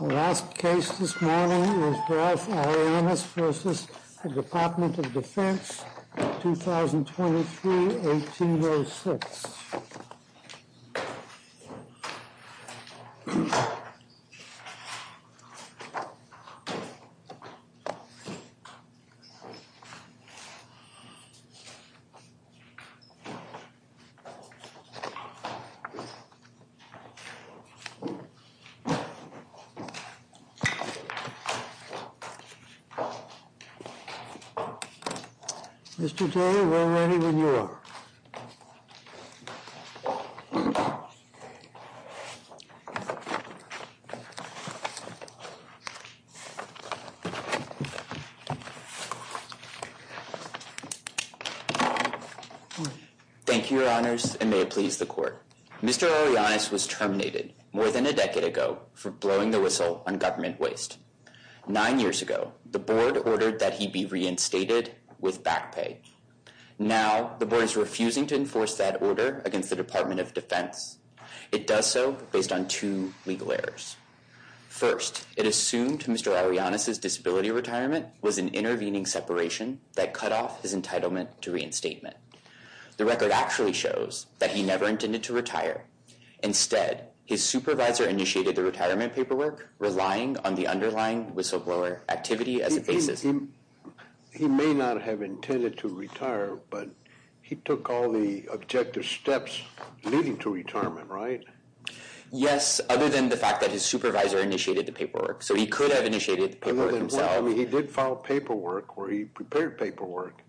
Our last case this morning is Ralph Arellanes v. The Department of Defense, 2023-1806. Mr. Taylor, we're ready when you are. Thank you, Your Honors, and may it please the Court, Mr. Arellanes was terminated more than a decade ago for blowing the whistle on government waste. Nine years ago, the Board ordered that he be reinstated with back pay. Now the Board is refusing to enforce that order against the Department of Defense. It does so based on two legal errors. First, it assumed Mr. Arellanes' disability retirement was an intervening separation that cut off his entitlement to reinstatement. The record actually shows that he never intended to retire. Instead, his supervisor initiated the retirement paperwork, relying on the underlying whistleblower activity as a basis. He may not have intended to retire, but he took all the objective steps leading to retirement, right? Yes, other than the fact that his supervisor initiated the paperwork. So he could have initiated the paperwork himself. Well, I mean, he did file paperwork, or he prepared paperwork.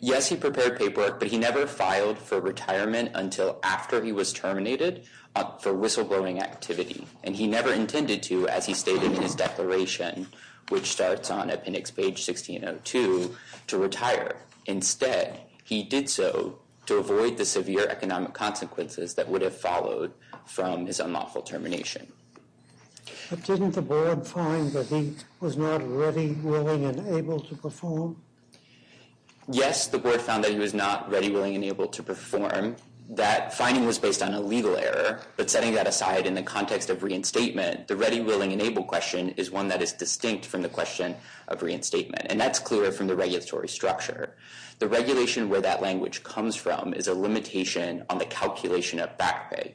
Yes, he prepared paperwork, but he never filed for retirement until after he was terminated for whistleblowing activity. And he never intended to, as he stated in his declaration, which starts on appendix page 1602, to retire. Instead, he did so to avoid the severe economic consequences that would have followed from his unlawful termination. But didn't the board find that he was not ready, willing, and able to perform? Yes, the board found that he was not ready, willing, and able to perform. That finding was based on a legal error, but setting that aside in the context of reinstatement, the ready, willing, and able question is one that is distinct from the question of reinstatement. And that's clear from the regulatory structure. The regulation where that language comes from is a limitation on the calculation of back pay.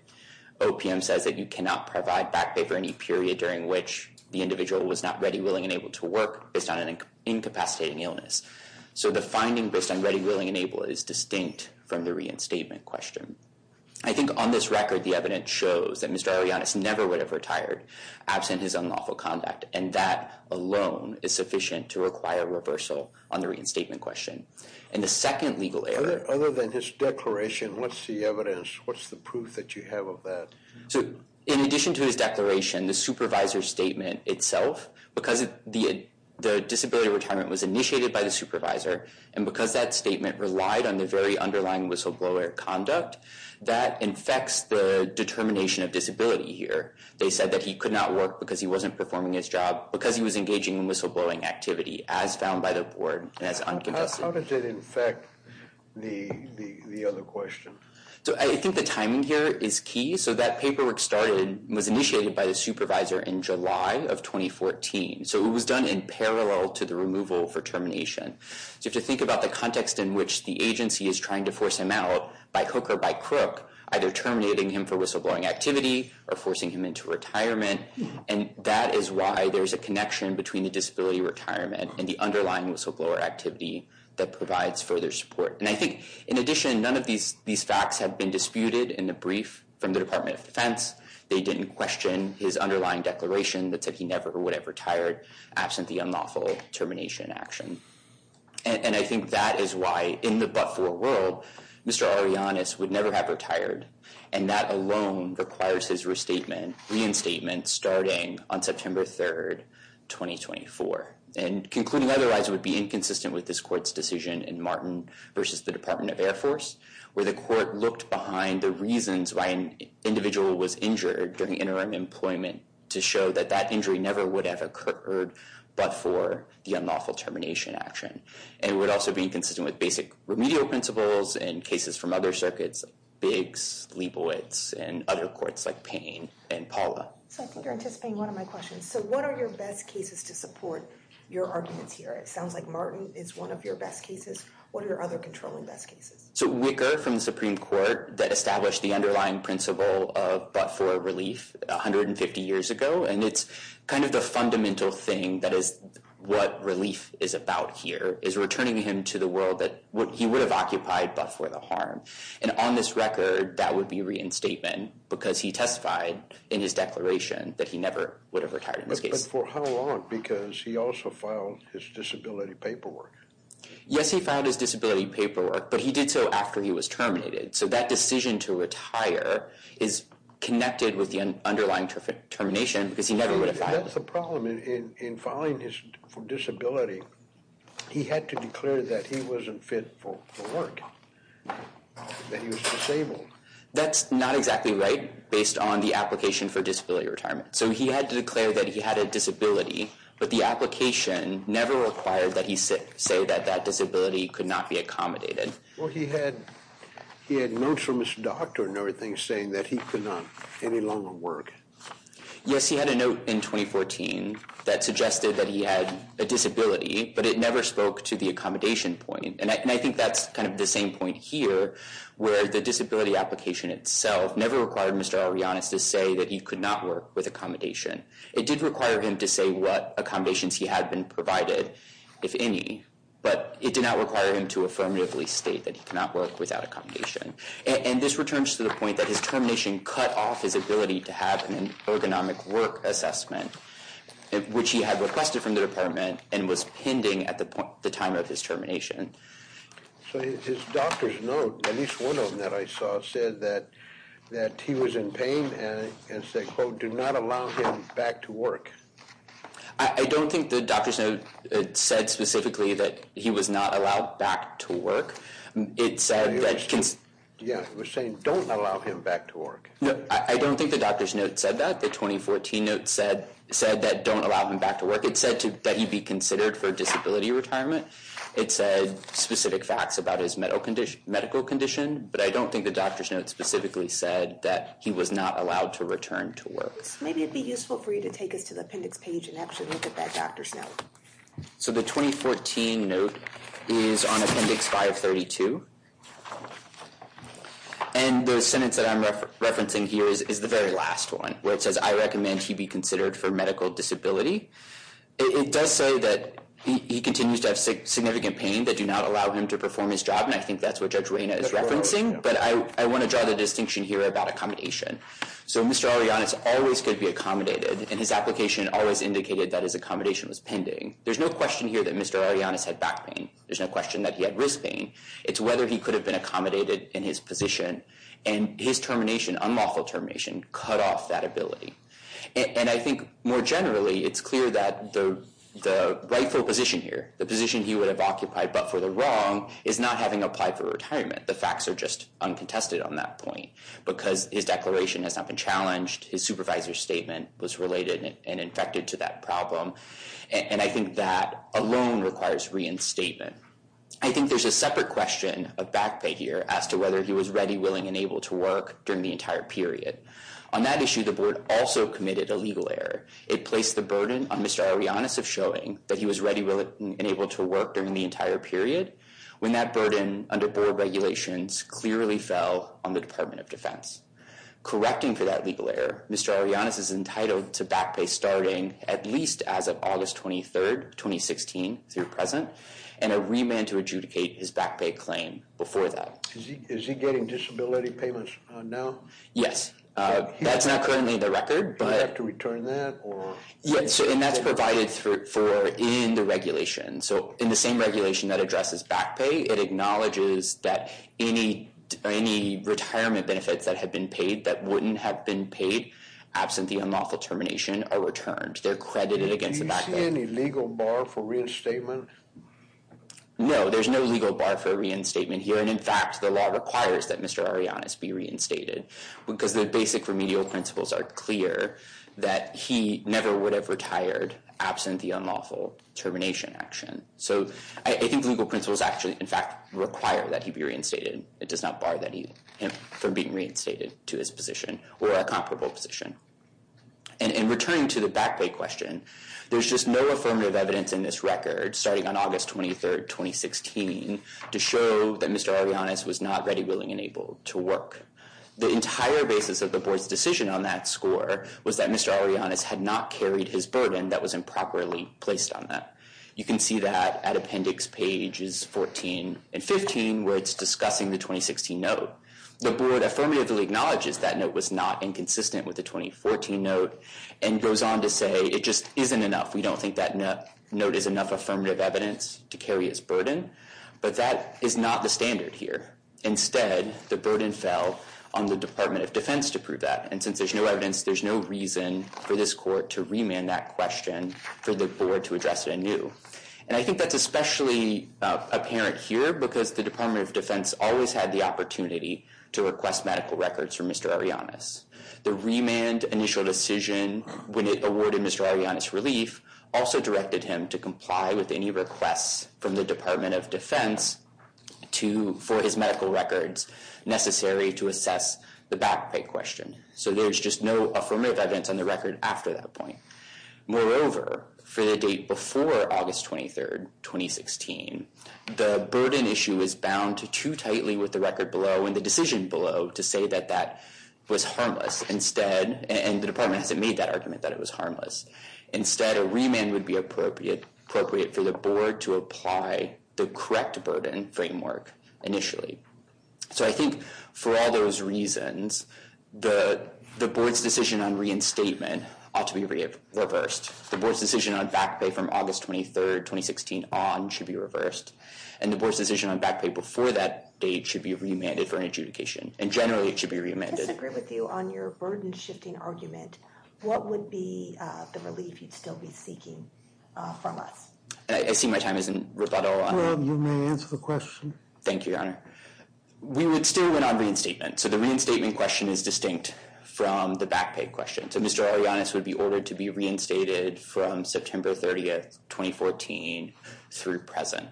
OPM says that you cannot provide back pay for any period during which the individual was not ready, willing, and able to work based on an incapacitating illness. So the finding based on ready, willing, and able is distinct from the reinstatement question. I think on this record, the evidence shows that Mr. Arianes never would have retired absent his unlawful conduct, and that alone is sufficient to require reversal on the reinstatement question. And the second legal error— Other than his declaration, what's the evidence? What's the proof that you have of that? So, in addition to his declaration, the supervisor's statement itself, because the disability retirement was initiated by the supervisor, and because that statement relied on the very underlying whistleblower conduct, that infects the determination of disability here. They said that he could not work because he wasn't performing his job because he was engaging in whistleblowing activity, as found by the board, and that's unconfessed. How did it infect the other question? So, I think the timing here is key. So that paperwork started—was initiated by the supervisor in July of 2014, so it was done in parallel to the removal for termination. So if you think about the context in which the agency is trying to force him out, by hook or by crook, either terminating him for whistleblowing activity or forcing him into retirement, and that is why there's a connection between the disability retirement and the underlying whistleblower activity that provides further support. And I think, in addition, none of these facts have been disputed in the brief from the Department of Defense. They didn't question his underlying declaration that said he never would have retired absent the unlawful termination action. And I think that is why, in the but-for world, Mr. Arianes would never have retired, and that alone requires his reinstatement starting on September 3, 2024. And concluding otherwise would be inconsistent with this court's decision in Martin v. the Department of Air Force, where the court looked behind the reasons why an individual was injured during interim employment to show that that injury never would have occurred but for the unlawful termination action. And it would also be inconsistent with basic remedial principles and cases from other circuits, Biggs, Leibowitz, and other courts like Payne and Paula. So I think you're anticipating one of my questions. So what are your best cases to support your arguments here? It sounds like Martin is one of your best cases. What are your other controlling best cases? So Wicker from the Supreme Court that established the underlying principle of but-for relief 150 years ago, and it's kind of the fundamental thing that is what relief is about here is returning him to the world that he would have occupied but for the harm. And on this record, that would be reinstatement because he testified in his declaration that he never would have retired in this case. But for how long? Because he also filed his disability paperwork. Yes, he filed his disability paperwork, but he did so after he was terminated. So that decision to retire is connected with the underlying termination because he never would have filed. That's the problem in filing his disability. He had to declare that he wasn't fit for work, that he was disabled. That's not exactly right based on the application for disability retirement. So he had to declare that he had a disability, but the application never required that he say that that disability could not be accommodated. Well, he had notes from his doctor and everything saying that he could not any longer work. Yes, he had a note in 2014 that suggested that he had a disability, but it never spoke to the accommodation point. And I think that's kind of the same point here where the disability application itself never required Mr. Arianes to say that he could not work with accommodation. It did require him to say what accommodations he had been provided, if any, but it did not require him to affirmatively state that he could not work without accommodation. And this returns to the point that his termination cut off his ability to have an ergonomic work assessment, which he had requested from the department and was pending at the time of his termination. So his doctor's note, at least one of them that I saw, said that he was in pain and said, quote, do not allow him back to work. I don't think the doctor's note said specifically that he was not allowed back to work. It said that he was saying don't allow him back to work. I don't think the doctor's note said that. The 2014 note said that don't allow him back to work. It said that he be considered for disability retirement. It said specific facts about his medical condition, but I don't think the doctor's note specifically said that he was not allowed to return to work. Maybe it would be useful for you to take us to the appendix page and actually look at that doctor's note. So the 2014 note is on appendix 532, and the sentence that I'm referencing here is the very last one, where it says I recommend he be considered for medical disability. It does say that he continues to have significant pain that do not allow him to perform his job, and I think that's what Judge Reyna is referencing, but I want to draw the distinction here about accommodation. So Mr. Arianes always could be accommodated, and his application always indicated that his accommodation was pending. There's no question here that Mr. Arianes had back pain. There's no question that he had wrist pain. It's whether he could have been accommodated in his position, and his termination, unlawful termination, cut off that ability. And I think more generally, it's clear that the rightful position here, the position he would have occupied but for the wrong, is not having applied for retirement. The facts are just uncontested on that point, because his declaration has not been challenged, his supervisor's statement was related and infected to that problem, and I think that alone requires reinstatement. I think there's a separate question of back pain here as to whether he was ready, willing, and able to work during the entire period. On that issue, the board also committed a legal error. It placed the burden on Mr. Arianes of showing that he was ready, willing, and able to work during the entire period, when that burden under board regulations clearly fell on the Department of Defense. Correcting for that legal error, Mr. Arianes is entitled to back pay starting at least as of August 23rd, 2016 through present, and a remand to adjudicate his back pay claim before that. Is he getting disability payments now? Yes. That's not currently in the record, but... Do you have to return that, or... Yes, and that's provided for in the regulation. So in the same regulation that addresses back pay, it acknowledges that any retirement benefits that have been paid that wouldn't have been paid absent the unlawful termination are returned. They're credited against the back pay. Do you see any legal bar for reinstatement? No, there's no legal bar for reinstatement here, and in fact, the law requires that Mr. Arianes, because the basic remedial principles are clear, that he never would have retired absent the unlawful termination action. So I think legal principles actually, in fact, require that he be reinstated. It does not bar him from being reinstated to his position, or a comparable position. In returning to the back pay question, there's just no affirmative evidence in this record starting on August 23rd, 2016, to show that Mr. Arianes was not ready, willing, and able to work. The entire basis of the board's decision on that score was that Mr. Arianes had not carried his burden that was improperly placed on that. You can see that at appendix pages 14 and 15, where it's discussing the 2016 note. The board affirmatively acknowledges that note was not inconsistent with the 2014 note, and goes on to say it just isn't enough. We don't think that note is enough affirmative evidence to carry his burden, but that is not the standard here. Instead, the burden fell on the Department of Defense to prove that, and since there's no evidence, there's no reason for this court to remand that question for the board to address it anew. And I think that's especially apparent here, because the Department of Defense always had the opportunity to request medical records from Mr. Arianes. The remand initial decision, when it awarded Mr. Arianes relief, also directed him to comply with any requests from the Department of Defense for his medical records necessary to assess the back pay question. So there's just no affirmative evidence on the record after that point. Moreover, for the date before August 23rd, 2016, the burden issue is bound to too tightly with the record below, and the decision below, to say that that was harmless instead, and the Department hasn't made that argument that it was harmless. Instead, a remand would be appropriate for the board to apply the correct burden framework initially. So I think for all those reasons, the board's decision on reinstatement ought to be reversed. The board's decision on back pay from August 23rd, 2016 on should be reversed, and the board's decision on back pay before that date should be remanded for an adjudication, and generally it should be reamended. I disagree with you on your burden-shifting argument. What would be the relief you'd still be seeking from us? I see my time is in rebuttal. Well, you may answer the question. Thank you, Your Honor. We would still win on reinstatement, so the reinstatement question is distinct from the back pay question. So Mr. Arianes would be ordered to be reinstated from September 30th, 2014 through present,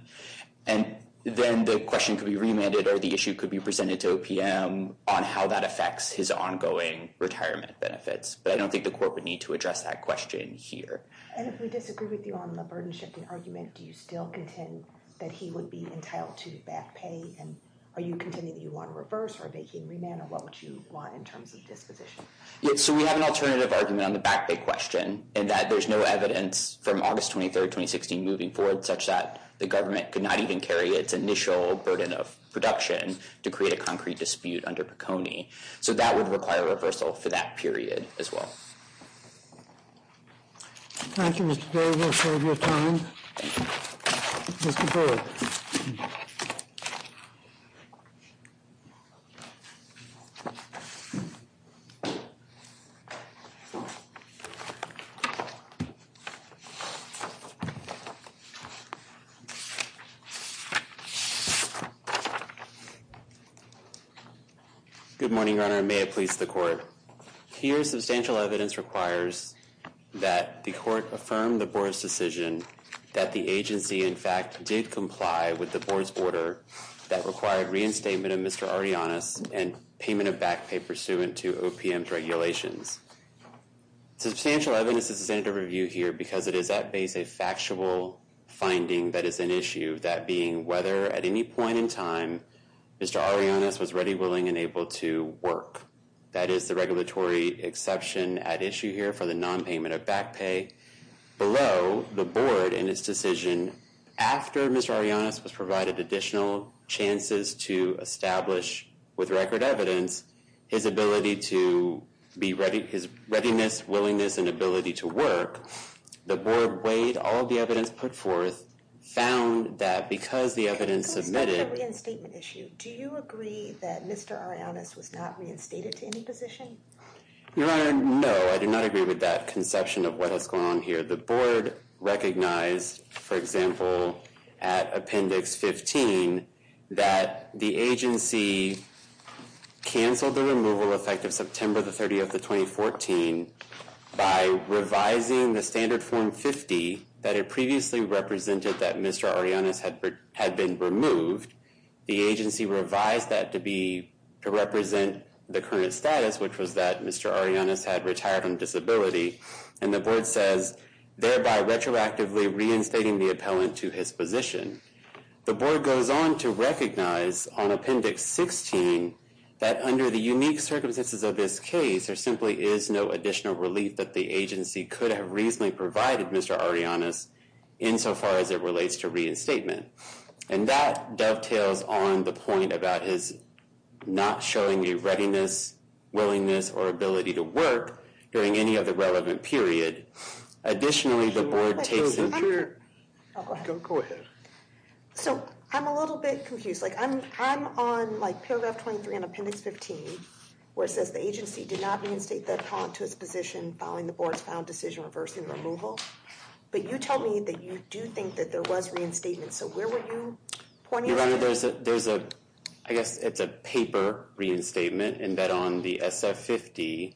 and then the question could be remanded or the issue could be presented to OPM on how that affects his ongoing retirement benefits. But I don't think the court would need to address that question here. And if we disagree with you on the burden-shifting argument, do you still contend that he would be entitled to back pay, and are you contending that you want to reverse or make him remanded? What would you want in terms of disposition? So we have an alternative argument on the back pay question, in that there's no evidence from August 23rd, 2016 moving forward such that the government could not even carry its initial burden of production to create a concrete dispute under Piconi. So that would require a reversal for that period as well. Thank you, Mr. Berry. We appreciate your time. Thank you. Mr. Berry. Good morning, Your Honor, and may it please the court. Here, substantial evidence requires that the court affirm the board's decision that the agency, in fact, did comply with the board's order that required reinstatement of Mr. Arrianos and payment of back pay pursuant to OPM's regulations. Substantial evidence is intended to review here because it is at base a factual finding that is an issue, that being whether at any point in time Mr. Arrianos was ready, willing, and able to work. That is the regulatory exception at issue here for the nonpayment of back pay. Below, the board, in its decision, after Mr. Arrianos was provided additional chances to establish, with record evidence, his ability to be ready, his readiness, willingness, and ability to work, the board weighed all the evidence put forth, found that because the evidence submitted... It's not just a reinstatement issue. Do you agree that Mr. Arrianos was not reinstated to any position? Your Honor, no, I do not agree with that conception of what has gone on here. The board recognized, for example, at Appendix 15, that the agency canceled the removal effect of September 30, 2014, by revising the Standard Form 50 that it previously represented that Mr. Arrianos had been removed. The agency revised that to represent the current status, which was that Mr. Arrianos had retired on disability, and the board says, thereby retroactively reinstating the appellant to his position. The board goes on to recognize, on Appendix 16, that under the unique circumstances of this case, there simply is no additional relief that the agency could have reasonably provided Mr. Arrianos, insofar as it relates to reinstatement. And that dovetails on the point about his not showing a readiness, willingness, or ability to work during any other relevant period. Additionally, the board takes... Go ahead. So, I'm a little bit confused. Like, I'm on, like, Paragraph 23 on Appendix 15, where it says the agency did not reinstate the appellant to his position following the board's found decision reversing removal. But you tell me that you do think that there was reinstatement. So where were you pointing? Your Honor, there's a... I guess it's a paper reinstatement in that on the SF-50,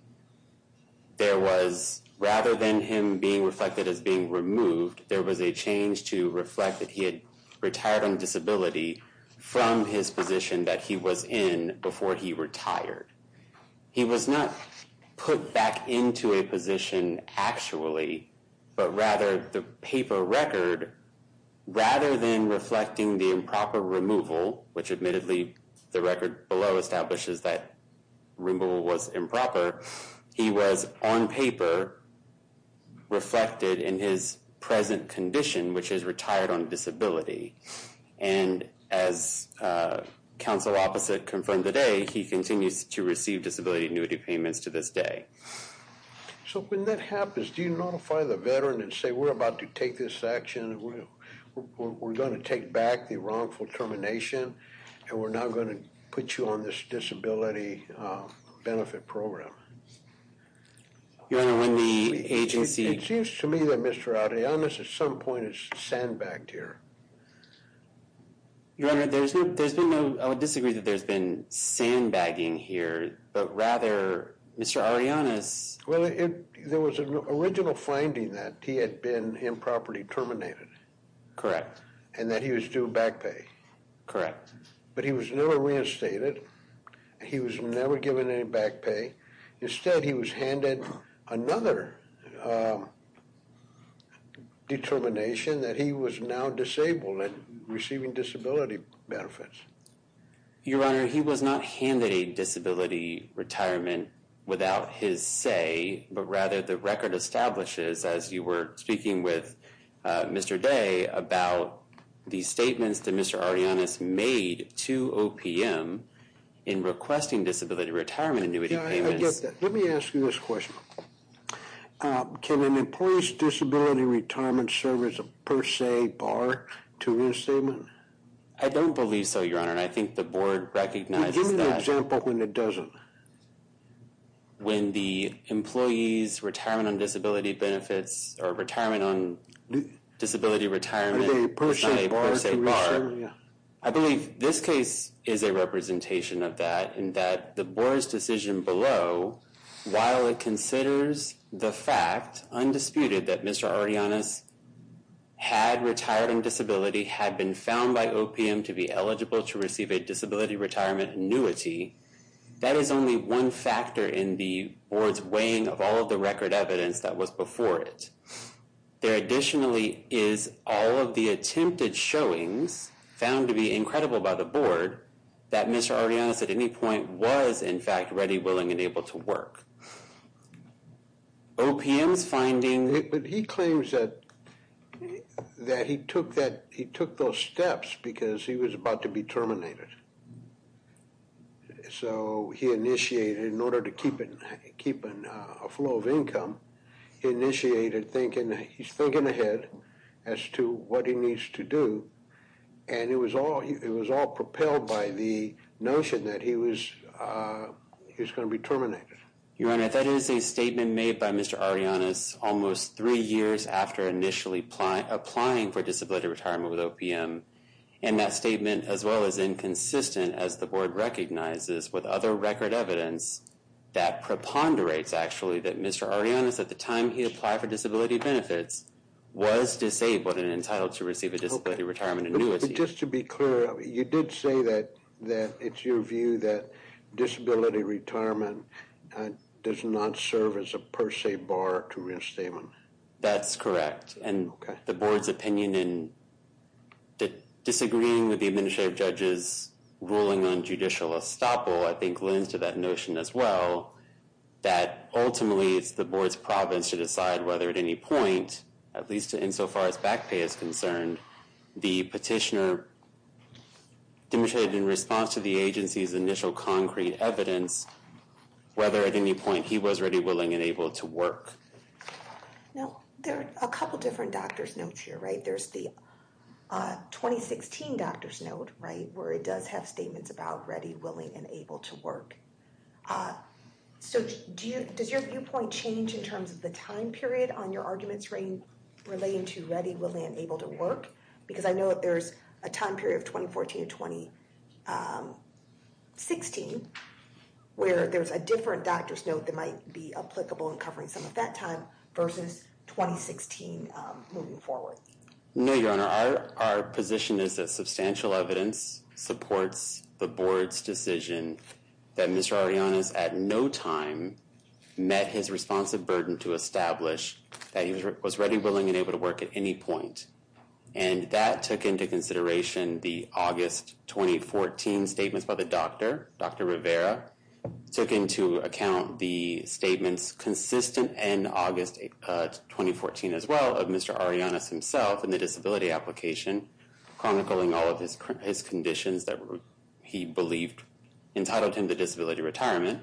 there was, rather than him being removed, there was a change to reflect that he had retired on disability from his position that he was in before he retired. He was not put back into a position actually, but rather the paper record, rather than reflecting the improper removal, which admittedly the record below establishes that removal was improper, he was on paper reflected in his present condition, which is retired on disability. And as counsel opposite confirmed today, he continues to receive disability annuity payments to this day. So when that happens, do you notify the veteran and say, we're about to take this action, we're going to take back the wrongful termination, and we're now going to put you on this disability benefit program? Your Honor, when the agency... It seems to me that Mr. Arianes at some point has sandbagged here. Your Honor, there's been no... I would disagree that there's been sandbagging here, but rather Mr. Arianes... Well, there was an original finding that he had been improperly terminated. Correct. And that he was due back pay. Correct. But he was never reinstated. He was never given any back pay. Instead, he was handed another determination that he was now disabled and receiving disability benefits. Your Honor, he was not handed a disability retirement without his say, but rather the record establishes, as you were speaking with Mr. Day, about the statements that Mr. Arianes made to OPM in requesting disability retirement annuity payments... Yeah, I get that. Let me ask you this question. Can an employee's disability retirement service per se bar to his statement? I don't believe so, Your Honor, and I think the board recognizes that... Well, give me an example when it doesn't. When the employee's retirement on disability benefits or retirement on disability retirement is not a per se bar. I believe this case is a representation of that, in that the board's decision below, while it considers the fact, undisputed, that Mr. Arianes had retired on disability, had been found by OPM to be eligible to receive a disability retirement annuity, that is only one factor in the board's weighing of all of the record evidence that was before it. There additionally is all of the attempted showings, found to be incredible by the board, that Mr. Arianes at any point was, in fact, ready, willing, and able to work. OPM's finding... But he claims that he took those steps because he was about to be terminated. So he initiated, in order to keep a flow of income, he initiated thinking that he's thinking ahead as to what he needs to do, and it was all propelled by the notion that he was going to be terminated. Your Honor, if that is a statement made by Mr. Arianes almost three years after initially applying for disability retirement with OPM, and that statement, as well as inconsistent as the board recognizes with other record evidence, that preponderates, actually, that Mr. Arianes, at the time he applied for disability benefits, was disabled and entitled to receive a disability retirement annuity. Just to be clear, you did say that it's your view that disability retirement does not serve as a per se bar to reinstatement. That's correct. And the board's opinion in disagreeing with the administrative judge's ruling on judicial estoppel, I think, lends to that notion, as well, that ultimately it's the board's province to decide whether at any point, at least insofar as back pay is concerned, the petitioner demonstrated in response to the agency's initial concrete evidence whether at any point he was ready, willing, and able to work. Now, there are a couple different doctor's notes here, right? There's the 2016 doctor's note, right, where it does have statements about ready, willing, and able to work. So does your viewpoint change in terms of the time period on your arguments relating to ready, willing, and able to work? Because I know that there's a time period of 2014 to 2016 where there's a different doctor's note that might be applicable in covering some of that time versus 2016 moving forward. No, Your Honor. Our position is that substantial evidence supports the board's decision that Mr. Arianes at no time met his responsive burden to establish that he was ready, willing, and able to work at any point. And that took into consideration the August 2014 statements by the doctor. Dr. Rivera took into account the statements consistent in August 2014 as well of Mr. Arianes himself in the disability application chronicling all of his conditions that he believed entitled him to disability retirement.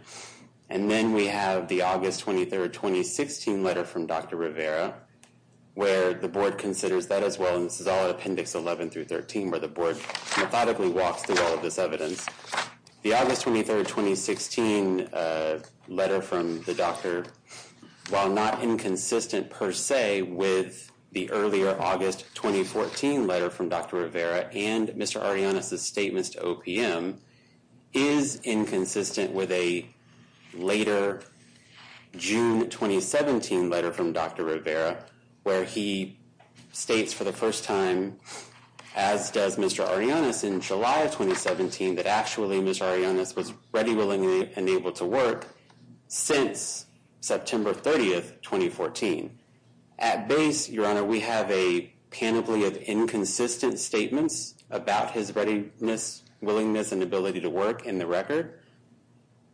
And then we have the August 23, 2016 letter from Dr. Rivera where the board considers that as well. And this is all in appendix 11 through 13 where the board methodically walks through all of this evidence. The August 23, 2016 letter from the doctor, while not inconsistent per se with the earlier August 2014 letter from Dr. Rivera and Mr. Arianes' statements to OPM, is inconsistent with a later June 2017 letter from Dr. Rivera where he states for the first time, as does Mr. Arianes in July 2017, that actually Mr. Arianes was ready, willing, and able to work since September 30, 2014. At base, Your Honor, we have a panoply of inconsistent statements about his readiness, willingness, and ability to work in the record.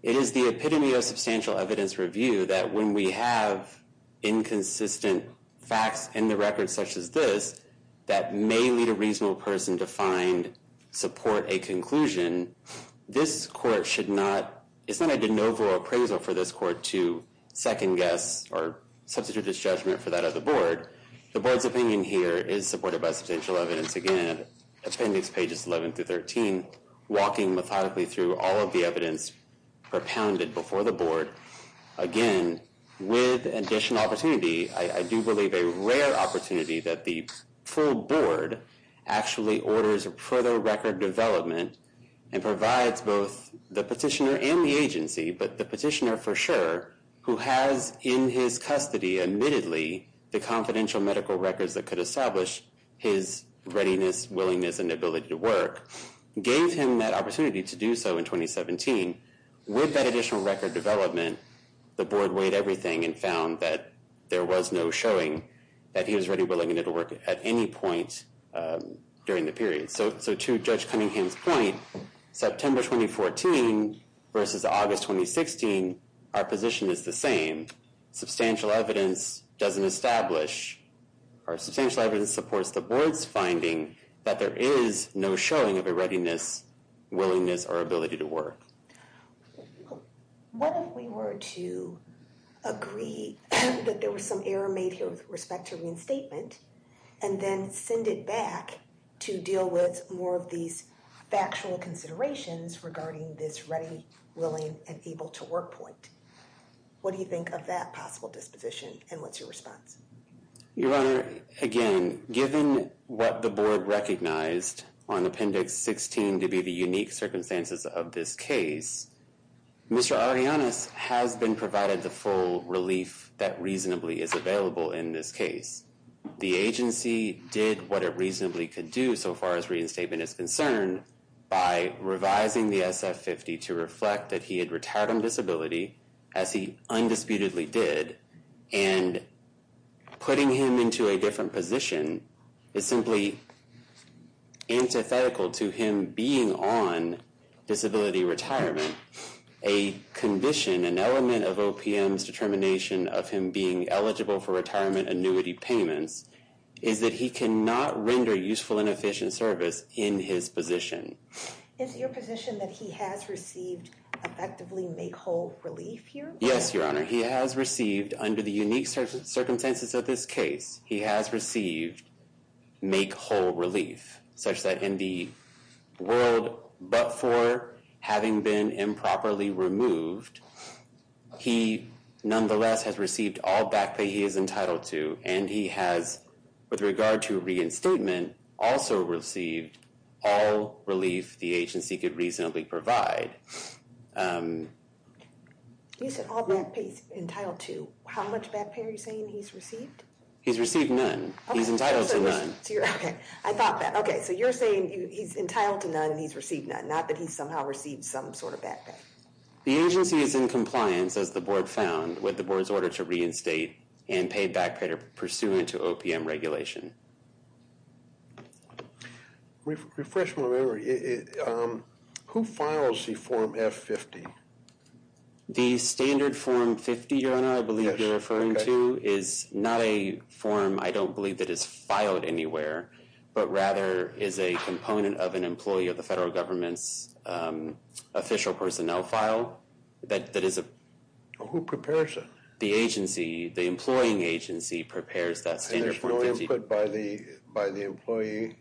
It is the epitome of substantial evidence review that when we have inconsistent facts in the record such as this that may lead a reasonable person to find, support a conclusion, this court should not, it's not a de novo appraisal for this court to second guess or substitute its judgment for that of the board. The board's opinion here is supported by substantial evidence. Again, appendix pages 11 through 13, walking methodically through all of the evidence propounded before the board. Again, with additional opportunity, I do believe a rare opportunity that the full board actually orders a further record development and provides both the petitioner and the agency, but the petitioner for sure, who has in his custody, admittedly, the confidential medical records that could establish his readiness, willingness, and ability to work, gave him that opportunity to do so in 2017. With that additional record development, the board weighed everything and found that there was no showing that he was ready, willing, and able to work at any point during the period. So to Judge Cunningham's point, September 2014 versus August 2016, our position is the same. Substantial evidence doesn't establish, or substantial evidence supports the board's finding that there is no showing of a readiness, willingness, or ability to work. What if we were to agree that there was some error made here with respect to reinstatement, and then send it back to deal with more of these factual considerations regarding this ready, willing, and able to work point? What do you think of that possible disposition, and what's your response? Your Honor, again, given what the board recognized on Appendix 16 to be the unique circumstances of this case, Mr. Ariannis has been provided the full relief that reasonably is available in this case. The agency did what it reasonably could do so far as reinstatement is concerned by revising the SF-50 to reflect that he had retardum disability, as he undisputedly did, and putting him into a different position is simply antithetical to him being on disability retirement. A condition, an element of OPM's determination of him being eligible for retirement annuity payments is that he cannot render useful and efficient service in his position. Is it your position that he has received effectively make-whole relief here? Yes, Your Honor. He has received, under the unique circumstances of this case, he has received make-whole relief, such that in the world but for having been improperly removed, he nonetheless has received all back pay he is entitled to, and he has, with regard to reinstatement, also received all relief the agency could reasonably provide. You said all back pay he's entitled to. How much back pay are you saying he's received? He's received none. He's entitled to none. Okay, I thought that. Okay, so you're saying he's entitled to none and he's received none, not that he's somehow received some sort of back pay. The agency is in compliance, as the Board found, with the Board's order to reinstate and pay back pay pursuant to OPM regulation. Refresh my memory. Who files the Form F-50? The standard Form 50, Your Honor, I believe you're referring to, is not a form I don't believe that is filed anywhere, but rather is a component of an employee of the federal government's official personnel file that is a... Who prepares it? The agency, the employing agency, prepares that standard Form 50. And there's no input by the employee?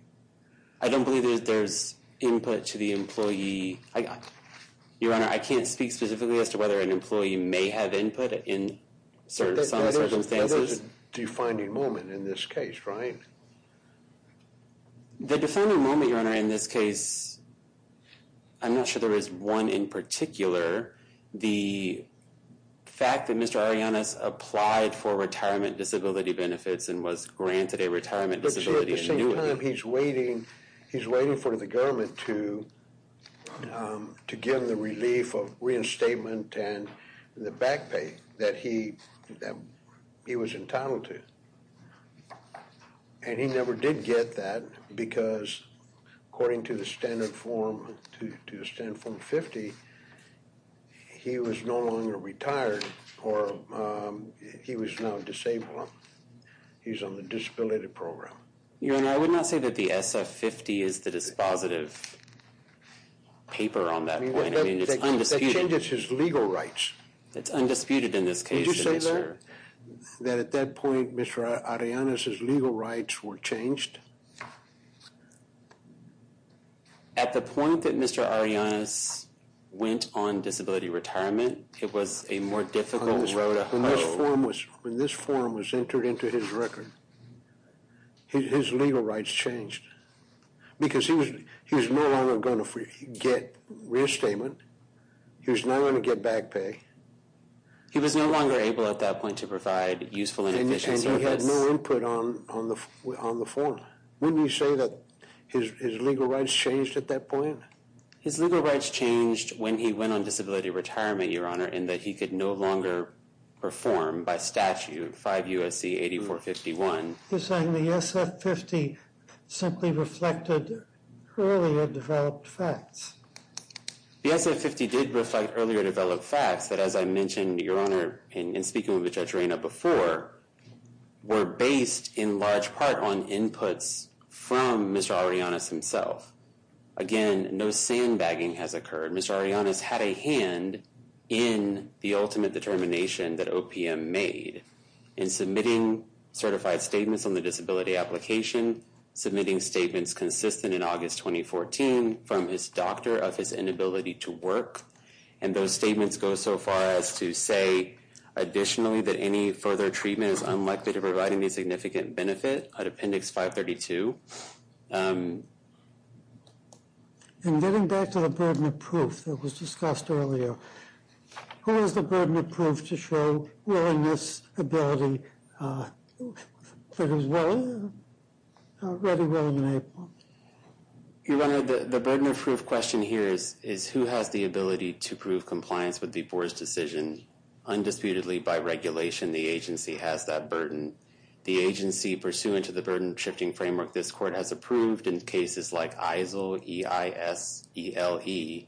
I don't believe there's input to the employee. Your Honor, I can't speak specifically as to whether an employee may have input in certain circumstances. That is a defining moment in this case, right? The defining moment, Your Honor, in this case, I'm not sure there is one in particular. The fact that Mr. Ariannis applied for retirement disability benefits and was granted a retirement disability... But at the same time, he's waiting, he's waiting for the government to give him the relief of reinstatement and the back pay that he was entitled to. And he never did get that because, according to the standard Form 50, he was no longer retired or he was now disabled. He's on the disability program. Your Honor, I would not say that the SF-50 is the dispositive paper on that point. I mean, it's undisputed. That changes his legal rights. It's undisputed in this case. Did you say that? That at that point, Mr. Ariannis' legal rights were changed? At the point that Mr. Ariannis went on disability retirement, it was a more difficult road to hoe. When this form was entered into his record, his legal rights changed. Because he was no longer going to get reinstatement. He was not going to get back pay. He was no longer able at that point to provide useful and efficient service. And he had no input on the form. Wouldn't you say that his legal rights changed at that point? His legal rights changed when he went on disability retirement, Your Honor, in that he could no longer perform by statute 5 U.S.C. 8451. You're saying the SF-50 simply reflected earlier developed facts. The SF-50 did reflect earlier developed facts that, as I mentioned, Your Honor, in speaking with Judge Reyna before, were based in large part on inputs from Mr. Ariannis himself. Again, no sandbagging has occurred. Mr. Ariannis had a hand in the ultimate determination that OPM made in submitting certified statements on the disability application, submitting statements consistent in August 2014 from his doctor of his inability to work. And those statements go so far as to say, additionally, that any further treatment is unlikely to provide any significant benefit at Appendix 532. And getting back to the burden of proof that was discussed earlier, who has the burden of proof to show willingness, ability for his will, ready, willing, and able? Your Honor, the burden of proof question here is, who has the ability to prove compliance with the Board's decision? Undisputedly, by regulation, the agency has that burden. The agency, pursuant to the burden-shifting framework this Court has approved, in cases like EISLE, E-I-S-E-L-E,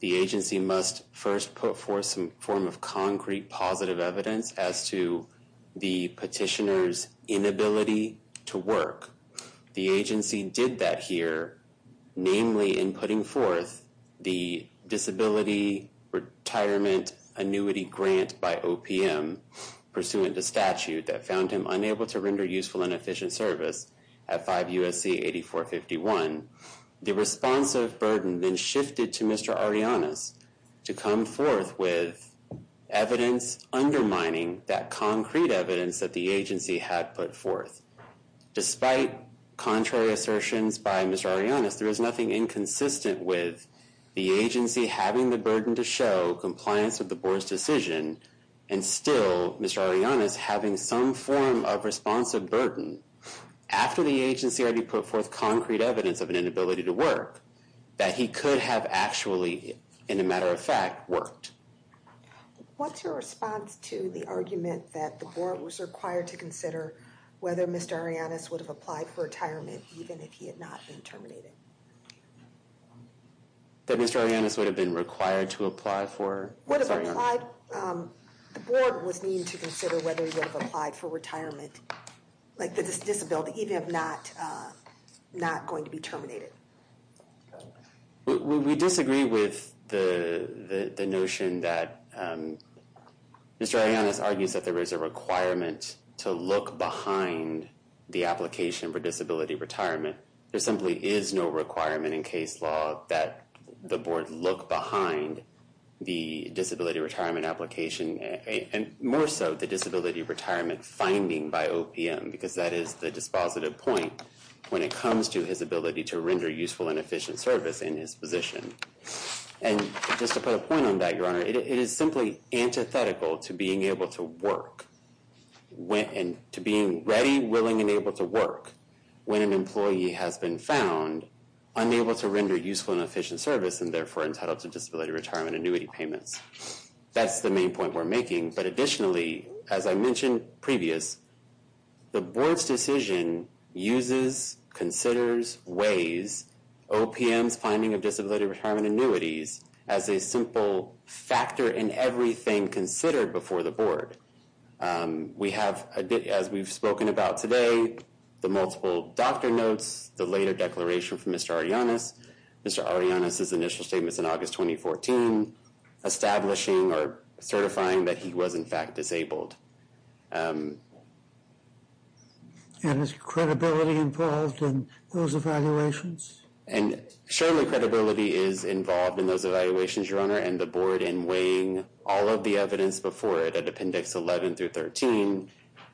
the agency must first put forth some form of concrete positive evidence as to the petitioner's inability to work. The agency did that here, namely in putting forth the disability retirement annuity grant by OPM, pursuant to statute, that found him unable to render useful and efficient service at 5 U.S.C. 8451. The responsive burden then shifted to Mr. Ariannas to come forth with evidence undermining that concrete evidence that the agency had put forth. Despite contrary assertions by Mr. Ariannas, there is nothing inconsistent with the agency having the burden to show compliance with the Board's decision and still Mr. Ariannas having some form of responsive burden after the agency already put forth concrete evidence of an inability to work that he could have actually, in a matter of fact, worked. What's your response to the argument that the Board was required to consider whether Mr. Ariannas would have applied for retirement even if he had not been terminated? That Mr. Ariannas would have been required to apply for Mr. Ariannas? The Board was needed to consider whether he would have applied for retirement, like the disability, even if not going to be terminated. We disagree with the notion that Mr. Ariannas argues that there is a requirement to look behind the application for disability retirement. There simply is no requirement in case law that the Board look behind the disability retirement application and more so the disability retirement finding by OPM because that is the dispositive point when it comes to his ability to render useful and efficient service in his position. And just to put a point on that, Your Honor, it is simply antithetical to being able to work, to being ready, willing, and able to work when an employee has been found unable to render useful and efficient service and therefore entitled to disability retirement annuity payments. That's the main point we're making. But additionally, as I mentioned previous, the Board's decision uses, considers, weighs OPM's finding of disability retirement annuities as a simple factor in everything considered before the Board. We have, as we've spoken about today, the multiple doctor notes, the later declaration from Mr. Ariannas, Mr. Ariannas' initial statements in August 2014, establishing or certifying that he was in fact disabled. And is credibility involved in those evaluations? And surely credibility is involved in those evaluations, Your Honor, and the Board in weighing all of the evidence before it at Appendix 11 through 13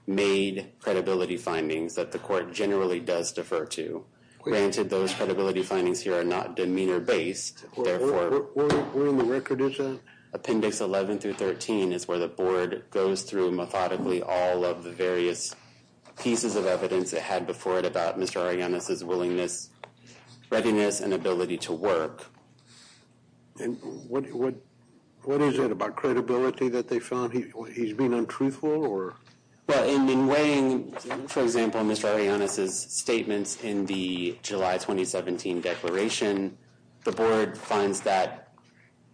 made credibility findings that the Court generally does defer to. Granted, those credibility findings here are not demeanor-based. Where in the record is that? Appendix 11 through 13 is where the Board goes through methodically all of the various pieces of evidence it had before it about Mr. Ariannas' willingness, readiness, and ability to work. And what is it about credibility that they found? He's being untruthful or... Well, in weighing, for example, Mr. Ariannas' statements in the July 2017 declaration, the Board finds that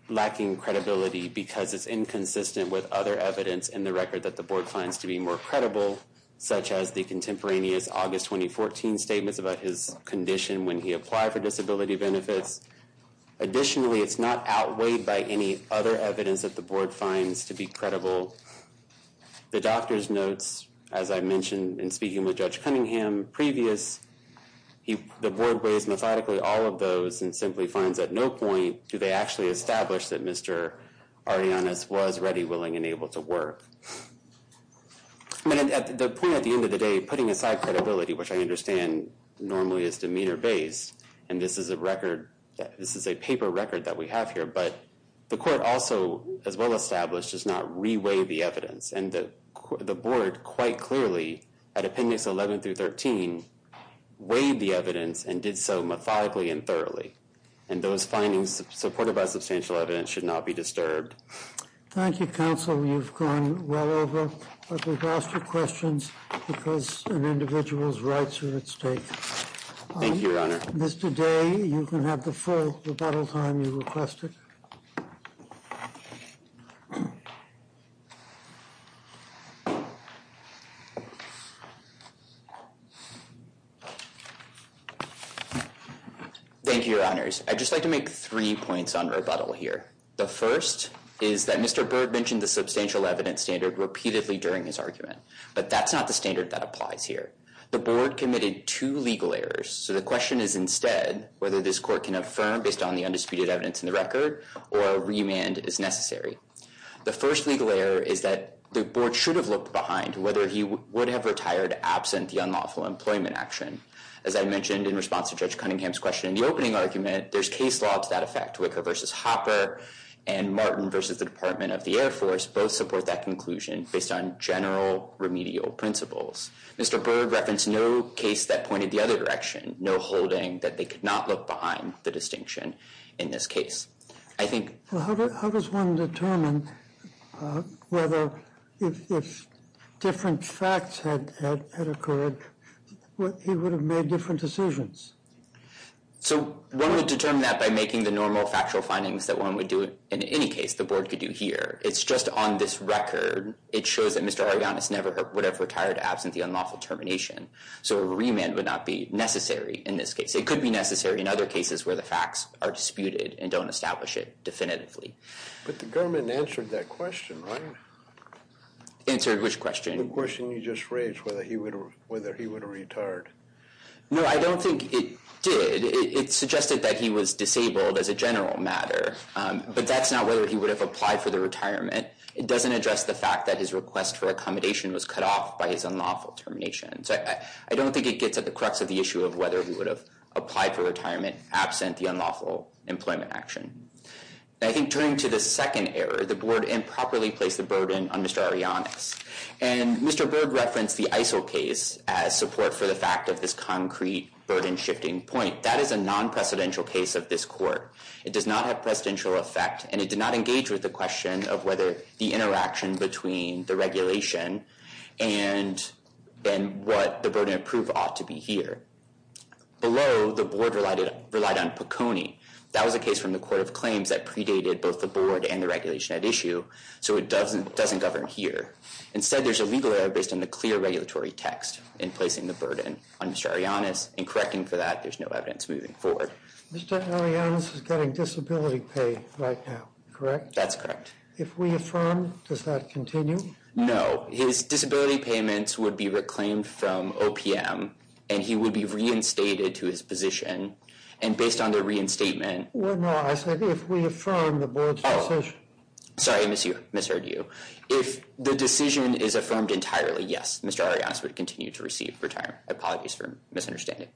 lacking credibility because it's inconsistent with other evidence in the record that the Board finds to be more credible, such as the contemporaneous August 2014 statements about his condition when he applied for disability benefits. Additionally, it's not outweighed by any other evidence that the Board finds to be credible. The doctor's notes, as I mentioned in speaking with Judge Cunningham previous, the Board weighs methodically all of those and simply finds at no point do they actually establish that Mr. Ariannas was ready, willing, and able to work. But at the point at the end of the day, putting aside credibility, which I understand normally is demeanor-based, and this is a record, this is a paper record that we have here, but the Court also, as well established, does not re-weigh the evidence. And the Board quite clearly, at Appendix 11 through 13, weighed the evidence and did so methodically and thoroughly. And those findings supported by substantial evidence should not be disturbed. Thank you, Counsel. You've gone well over, but we've lost your questions because an individual's rights are at stake. Thank you, Your Honor. Mr. Day, you can have the full rebuttal time you requested. Thank you, Your Honors. I'd just like to make three points on rebuttal here. The first is that Mr. Byrd mentioned the substantial evidence standard repeatedly during his argument, but that's not the standard that applies here. The Board committed two legal errors, so the question is instead whether this Court can affirm, based on the undisputed evidence in the record, or a remand is necessary. The first legal error is that the Board should have looked behind whether he would have retired absent the unlawful employment action. As I mentioned in response to Judge Cunningham's question in the opening argument, there's case law to that effect. Wicker v. Hopper and Martin v. the Department of the Air Force both support that conclusion based on general remedial principles. Mr. Byrd referenced no case that pointed the other direction, no holding that they could not look behind the distinction in this case. How does one determine whether if different facts had occurred, he would have made different decisions? So one would determine that by making the normal factual findings that one would do in any case the Board could do here. It's just on this record. It shows that Mr. Ariannis never would have retired absent the unlawful termination. So a remand would not be necessary in this case. It could be necessary in other cases where the facts are disputed and don't establish it definitively. But the government answered that question, right? Answered which question? The question you just raised, whether he would have retired. No, I don't think it did. It suggested that he was disabled as a general matter. But that's not whether he would have applied for the retirement. It doesn't address the fact that his request for accommodation was cut off by his unlawful termination. So I don't think it gets at the crux of the issue of whether he would have applied for retirement absent the unlawful employment action. I think turning to the second error, the Board improperly placed the burden on Mr. Ariannis. And Mr. Berg referenced the ISIL case as support for the fact of this concrete burden-shifting point. That is a non-presidential case of this Court. It does not have presidential effect, and it did not engage with the question of whether the interaction between the regulation and what the burden of proof ought to be here. Below, the Board relied on Poconi. That was a case from the Court of Claims that predated both the Board and the regulation at issue, so it doesn't govern here. Instead, there's a legal error based on the clear regulatory text in placing the burden on Mr. Ariannis, and correcting for that, there's no evidence moving forward. Mr. Ariannis is getting disability pay right now, correct? That's correct. If we affirm, does that continue? No. His disability payments would be reclaimed from OPM, and he would be reinstated to his position. And based on the reinstatement... No, I said if we affirm the Board's position. Sorry, I misheard you. If the decision is affirmed entirely, yes, Mr. Ariannis would continue to receive retirement. Apologies for misunderstanding.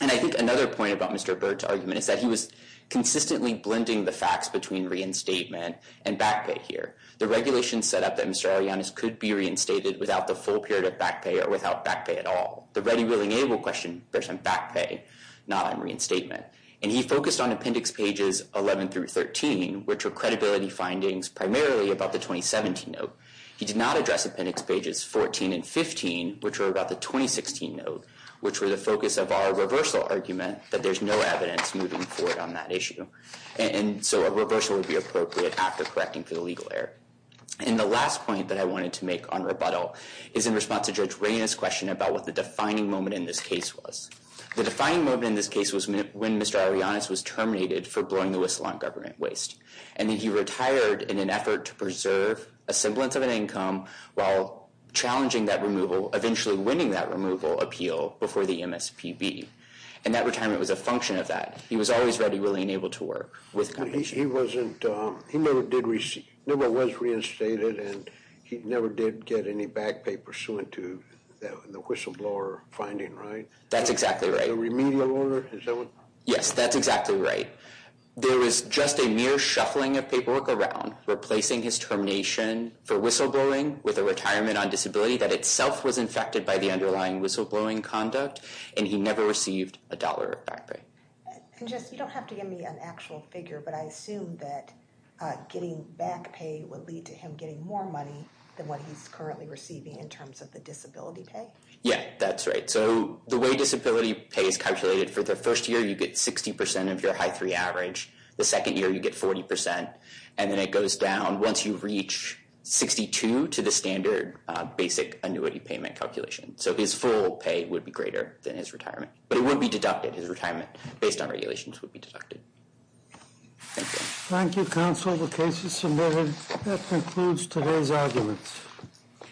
And I think another point about Mr. Burt's argument is that he was consistently blending the facts between reinstatement and back pay here. The regulation set up that Mr. Ariannis could be reinstated without the full period of back pay or without back pay at all. The ready, willing, able question bears on back pay, not on reinstatement. And he focused on Appendix Pages 11 through 13, which were credibility findings primarily about the 2017 note. He did not address Appendix Pages 14 and 15, which were about the 2016 note, which were the focus of our reversal argument that there's no evidence moving forward on that issue. And so a reversal would be appropriate after correcting for the legal error. And the last point that I wanted to make on rebuttal is in response to Judge Rayna's question about what the defining moment in this case was. The defining moment in this case was when Mr. Ariannis was terminated for blowing the whistle on government waste. And he retired in an effort to preserve a semblance of an income while challenging that removal, eventually winning that removal appeal before the MSPB. And that retirement was a function of that. He was always ready, willing, able to work with companies. He never was reinstated, and he never did get any back pay pursuant to the whistleblower finding, right? That's exactly right. The remedial order? Yes, that's exactly right. There was just a mere shuffling of paperwork around replacing his termination for whistleblowing with a retirement on disability that itself was infected by the underlying whistleblowing conduct, and he never received a dollar of back pay. And, Jess, you don't have to give me an actual figure, but I assume that getting back pay would lead to him getting more money than what he's currently receiving in terms of the disability pay? Yeah, that's right. So the way disability pay is calculated, for the first year you get 60% of your high-3 average, the second year you get 40%, and then it goes down once you reach 62% to the standard basic annuity payment calculation. So his full pay would be greater than his retirement. But it would be deducted. His retirement, based on regulations, would be deducted. Thank you. Thank you, counsel. The case is submitted. That concludes today's arguments.